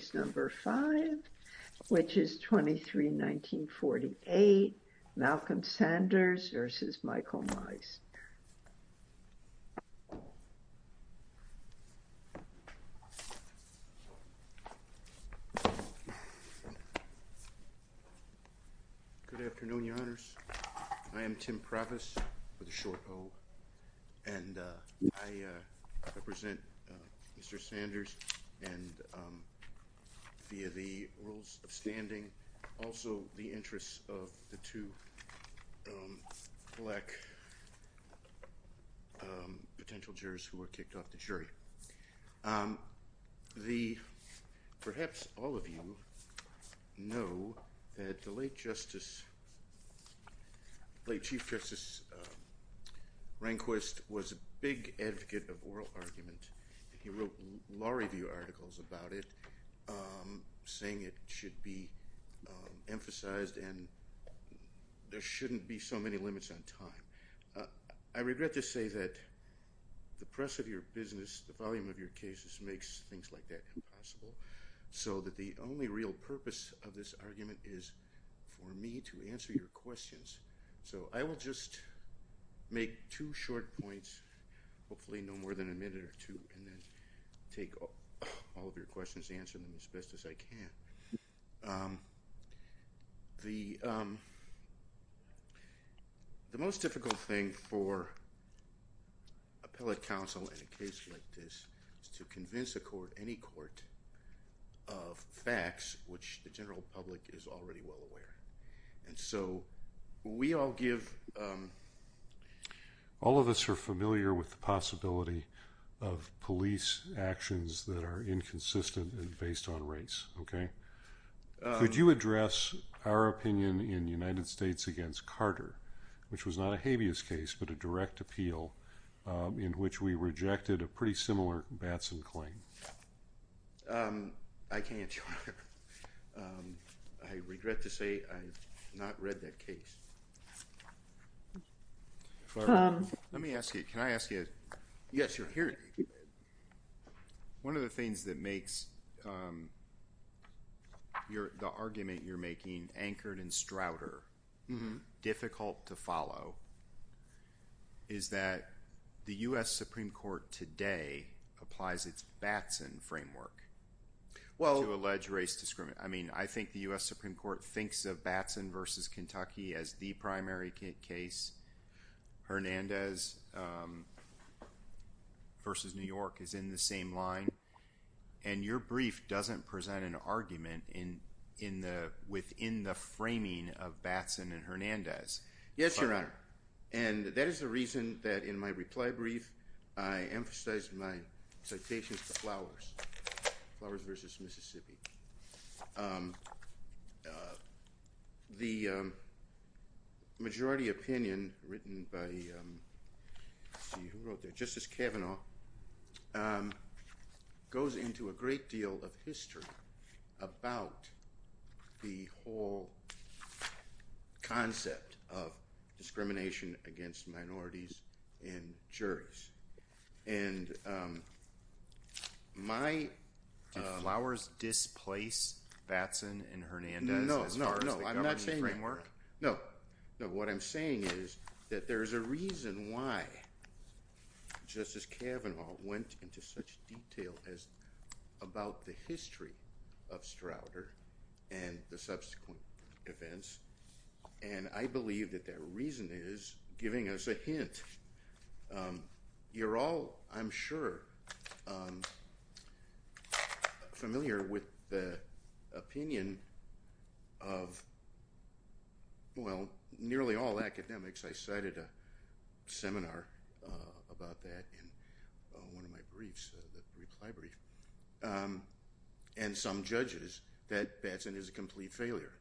Good afternoon, your honors. I am Tim Previs, with a short o, and I represent Mr. Sanders and via the rules of standing, also the interests of the two black potential jurors who were kicked off the jury. Perhaps all of you know that the late Chief Justice Rehnquist was a big advocate of oral argument. He wrote law review articles about it, saying it should be emphasized and there shouldn't be so many limits on time. I regret to say that the press of your business, the volume of your cases makes things like that impossible, so that the only real purpose of this and then take all of your questions and answer them as best as I can. The most difficult thing for appellate counsel in a case like this is to convince a court, any court, of facts which the of police actions that are inconsistent and based on race. Could you address our opinion in United States against Carter, which was not a habeas case but a direct appeal in which we rejected a pretty similar Batson claim? I can't, your honor. I regret to say I've not read that One of the things that makes the argument you're making anchored in Strouder difficult to follow is that the US Supreme Court today applies its Batson framework. I think the US Supreme Court thinks of Batson versus Kentucky as the primary case. Hernandez versus New York is in the same line, and your brief doesn't present an argument within the framing of Batson and Hernandez. Yes, your honor, and that is the reason that in my reply brief, I emphasized my citations to Flowers versus Mississippi. The majority opinion written by Justice Kavanaugh goes into a great deal of history about the whole concept of discrimination against minorities and juries, and my... Did Flowers displace Batson and Hernandez as far as the government framework? No, no, what I'm saying is that there's a reason why Justice Kavanaugh went into such detail as about the history of Strouder and the subsequent You're all, I'm sure, familiar with the opinion of, well, nearly all academics. I cited a seminar about that in one of my briefs, the reply brief, and some judges that Batson is a complete failure.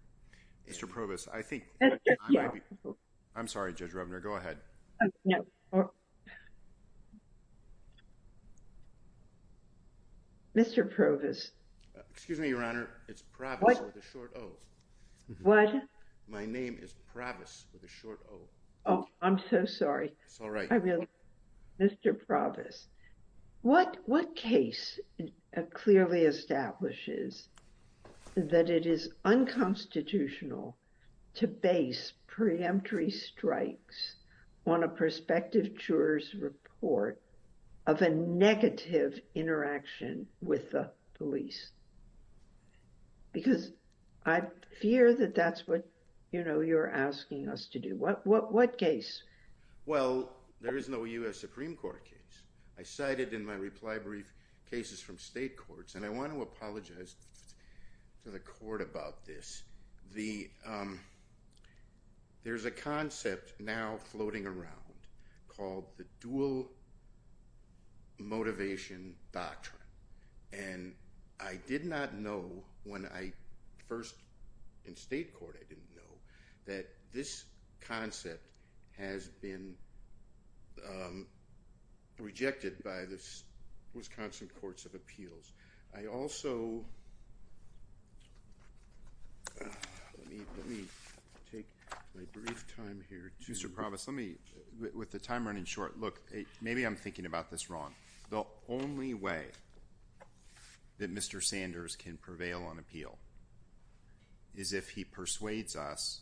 Mr. Provis, I think... I'm sorry, Judge Rubner, go ahead. Mr. Provis. Excuse me, your honor, it's Provis with a short O. What? My name is Provis with a short O. Oh, I'm so sorry. It's all right. Mr. Provis, what case clearly establishes that it is unconstitutional to base preemptory strikes on a prospective juror's report of a negative interaction with the police? Because I fear that that's what, you know, you're asking us to do. What case? Well, there is no U.S. Supreme Court case. I cited in my reply brief cases from state courts, and I want to apologize to the court about this. There's a concept now floating around called the dual motivation doctrine, and I did not know when I first, in state court, I didn't know that this concept has been rejected by the Wisconsin Courts of Appeals. I also... Let me take my brief time here to... Mr. Provis, let me, with the time running short, look, maybe I'm thinking about this wrong. The only way that Mr. Sanders can prevail on appeal is if he persuades us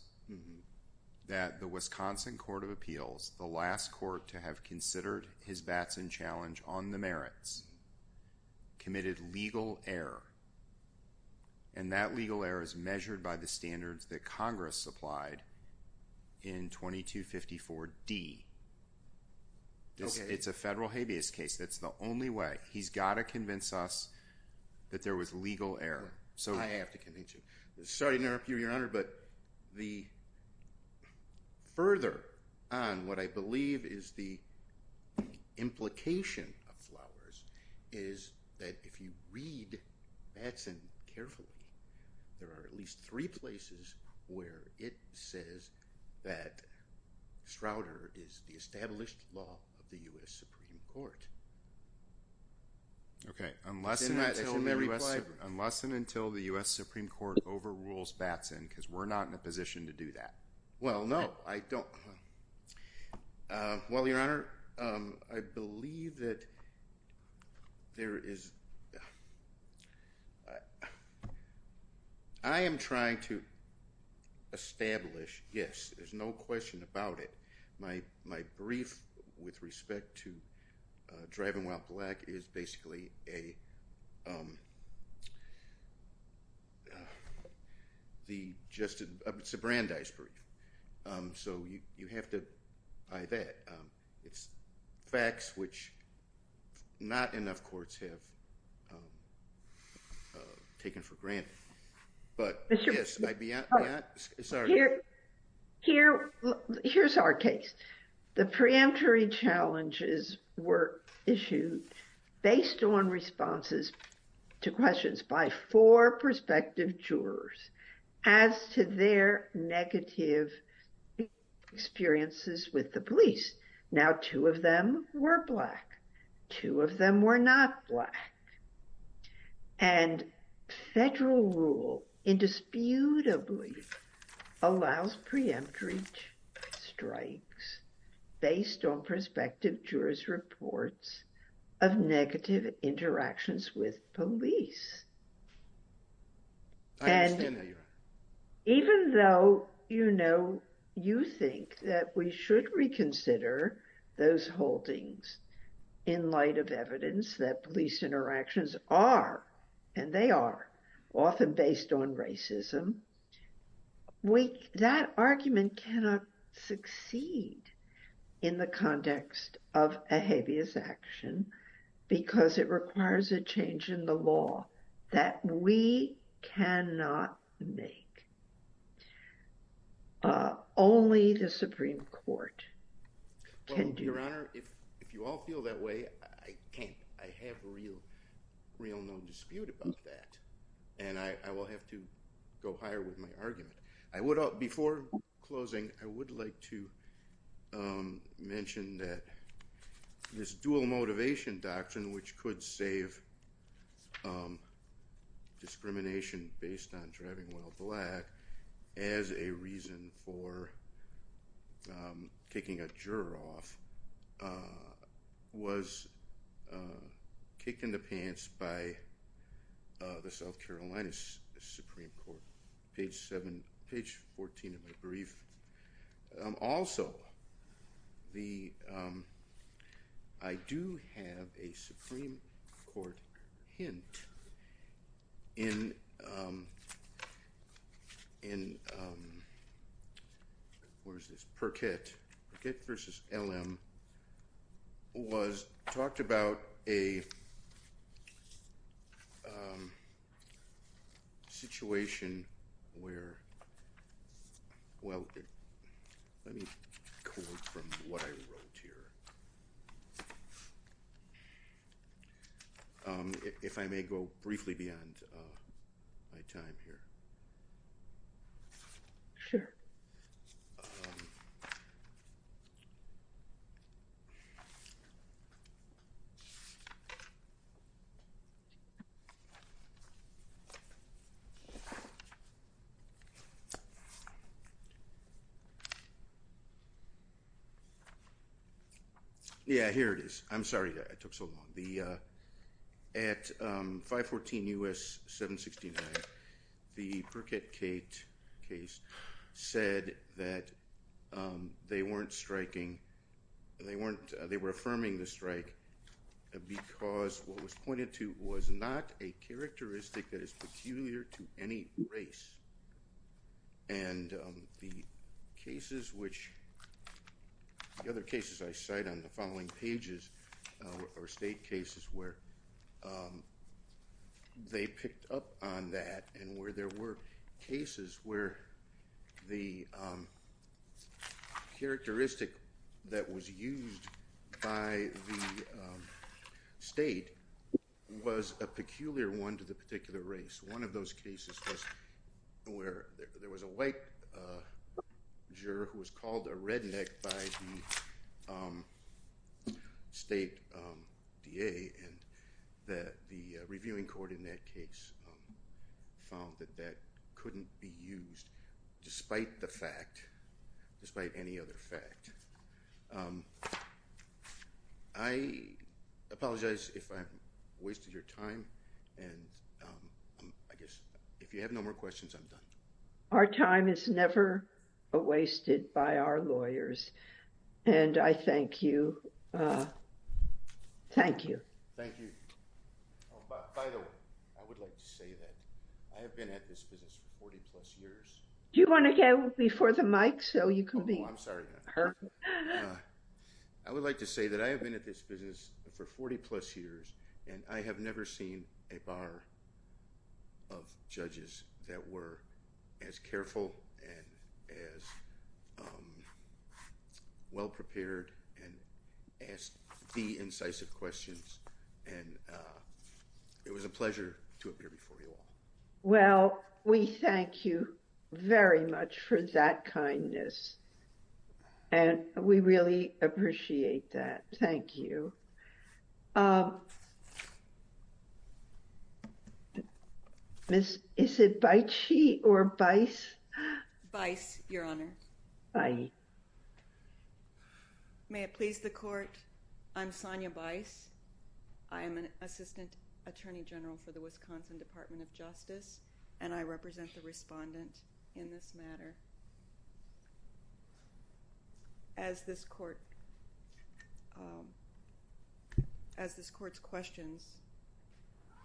that the Wisconsin Court of Appeals, the last court to have considered his Batson challenge on the merits, committed legal error. And that legal error is measured by the standards that Congress supplied in 2254D. It's a federal habeas case. That's the only way. He's got to convince us that there was legal error. I have to convince you. Sorry to interrupt you, Your Honor, but the further on what I believe is the implication of Flowers is that if you read Batson carefully, there are at least three places where it says that Strouder is the established law of the U.S. Supreme Court. Okay, unless and until the U.S. Supreme Court overrules Batson, because we're not in a position to do that. Well, no, I don't. Well, Your Honor, I believe that there is... I am trying to establish, yes, there's no question about it. My brief with respect to Driving While Black is basically a... It's a Brandeis brief, so you have to buy that. It's facts which not enough courts have taken for granted. Here's our case. The preemptory challenges were issued based on responses to questions by four prospective jurors as to their negative experiences with the police. Now, two of them were black, two of them were not black, and federal rule indisputably allows preemptory strikes based on prospective jurors' reports of negative interactions with police. I understand that, Your Honor. And even though, you know, you think that we should reconsider those holdings in light of evidence that police interactions are, and they are, often based on racism, that argument cannot succeed in the context of a habeas action, because it requires a change in the law that we cannot make. Only the Supreme Court can do that. Your Honor, if you all feel that way, I have real no dispute about that. And I will have to go higher with my argument. Before closing, I would like to mention that this dual motivation doctrine, which could save discrimination based on driving while black, as a reason for kicking a juror off, was kicked in the pants by the South Carolina Supreme Court. Page 14 of my brief. Also, the, I do have a Supreme Court hint in, where is this, Perkett. Perkett v. LM was, talked about a situation where, well, let me record from what I wrote here. If I may go briefly beyond my time here. Sure. Um. Yeah, here it is. I'm sorry I took so long. At 514 U.S. 769, the Perkett case said that they weren't striking, they weren't, they were affirming the strike because what was pointed to was not a characteristic that is peculiar to any race. And the cases which, the other cases I cite on the following pages are state cases where they picked up on that and where there were cases where the characteristic that was used by the state was a peculiar one to the particular race. One of those cases was where there was a white juror who was called a redneck by the state DA and the reviewing court in that case found that that couldn't be used despite the fact, despite any other fact. I apologize if I wasted your time and I guess if you have no more questions, I'm done. Our time is never wasted by our lawyers and I thank you. Thank you. Thank you. By the way, I would like to say that I have been at this business for 40 plus years. Do you want to go before the mic so you can be heard? I would like to say that I have been at this business for 40 plus years and I have never seen a bar of judges that were as careful and as well prepared and asked the incisive questions and it was a pleasure to appear before you all. Well, we thank you very much for that kindness. And we really appreciate that. Thank you. Miss, is it Bice or Bice? Bice, Your Honor. May it please the court. I'm Sonia Bice. I am an Assistant Attorney General for the Wisconsin Department of Justice and I represent the respondent in this matter. As this court's questions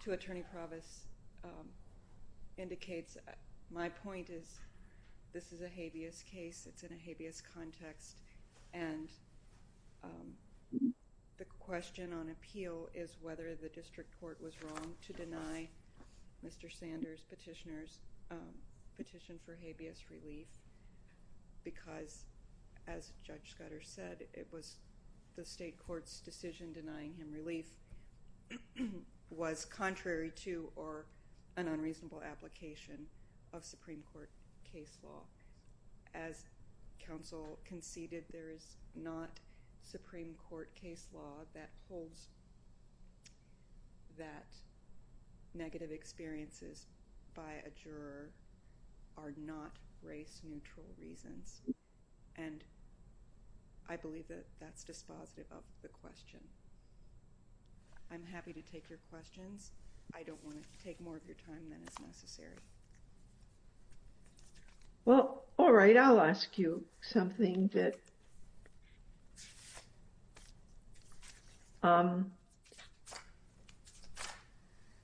to Attorney Provost indicates, my point is this is a habeas case. It's in a habeas context and the question on appeal is whether the district court was wrong to deny Mr. Sanders petitioner's petition for habeas relief because, as Judge Scudder said, it was the state court's decision denying him relief was contrary to or an unreasonable application of Supreme Court case law. As counsel conceded, there is not Supreme Court case law that holds that negative experiences by a juror are not race neutral reasons and I believe that that's dispositive of the question. I'm happy to take your questions. I don't want to take more of your time than is necessary. Well, all right. I'll ask you something that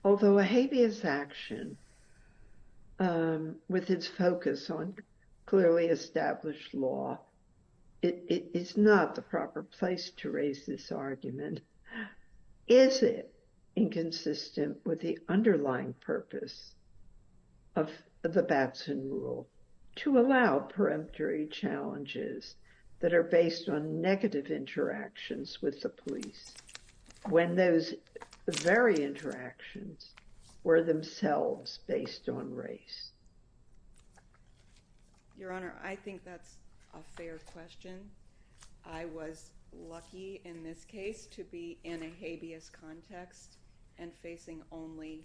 although a habeas action with its focus on clearly established law, it is not the proper place to raise this argument. Is it inconsistent with the underlying purpose of the Batson rule to allow peremptory challenges that are based on negative interactions with the police when those very interactions were themselves based on race? Your Honor, I think that's a fair question. I was lucky in this case to be in a habeas context and facing only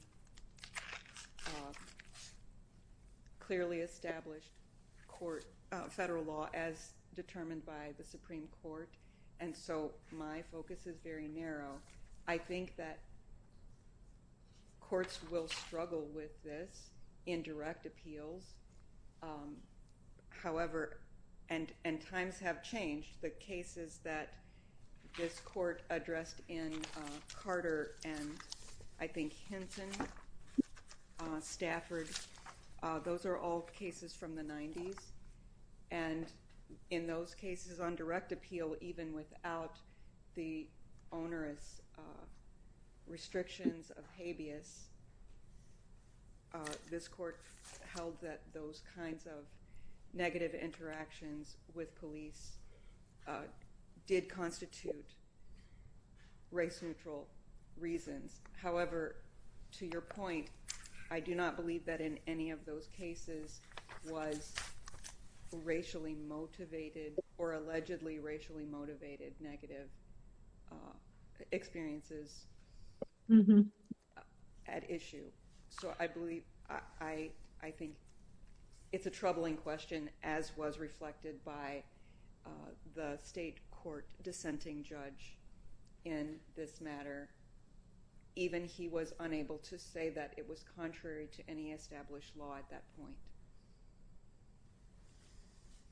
clearly established federal law as determined by the Supreme Court and so my focus is very narrow. I think that courts will struggle with this in direct appeals, however, and times have changed, the cases that this court addressed in Carter and I think Hinson, Stafford, those are all cases from the 90s. And in those cases on direct appeal, even without the onerous restrictions of habeas, this court held that those kinds of negative interactions with police did constitute race neutral reasons. However, to your point, I do not believe that in any of those cases was racially motivated or allegedly racially motivated negative experiences at issue. So I believe, I think it's a troubling question as was reflected by the state court dissenting judge in this matter. Even he was unable to say that it was contrary to any established law at that point.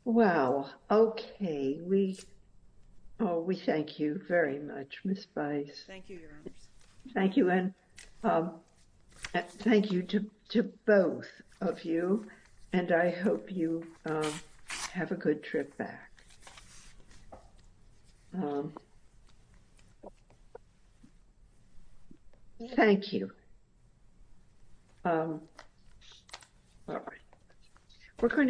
Well, okay. We thank you very much, Ms. Bice. Thank you, Your Honor. Thank you and thank you to both of you and I hope you have a good trip back. Thank you. Thank you. Thank you. Thank you.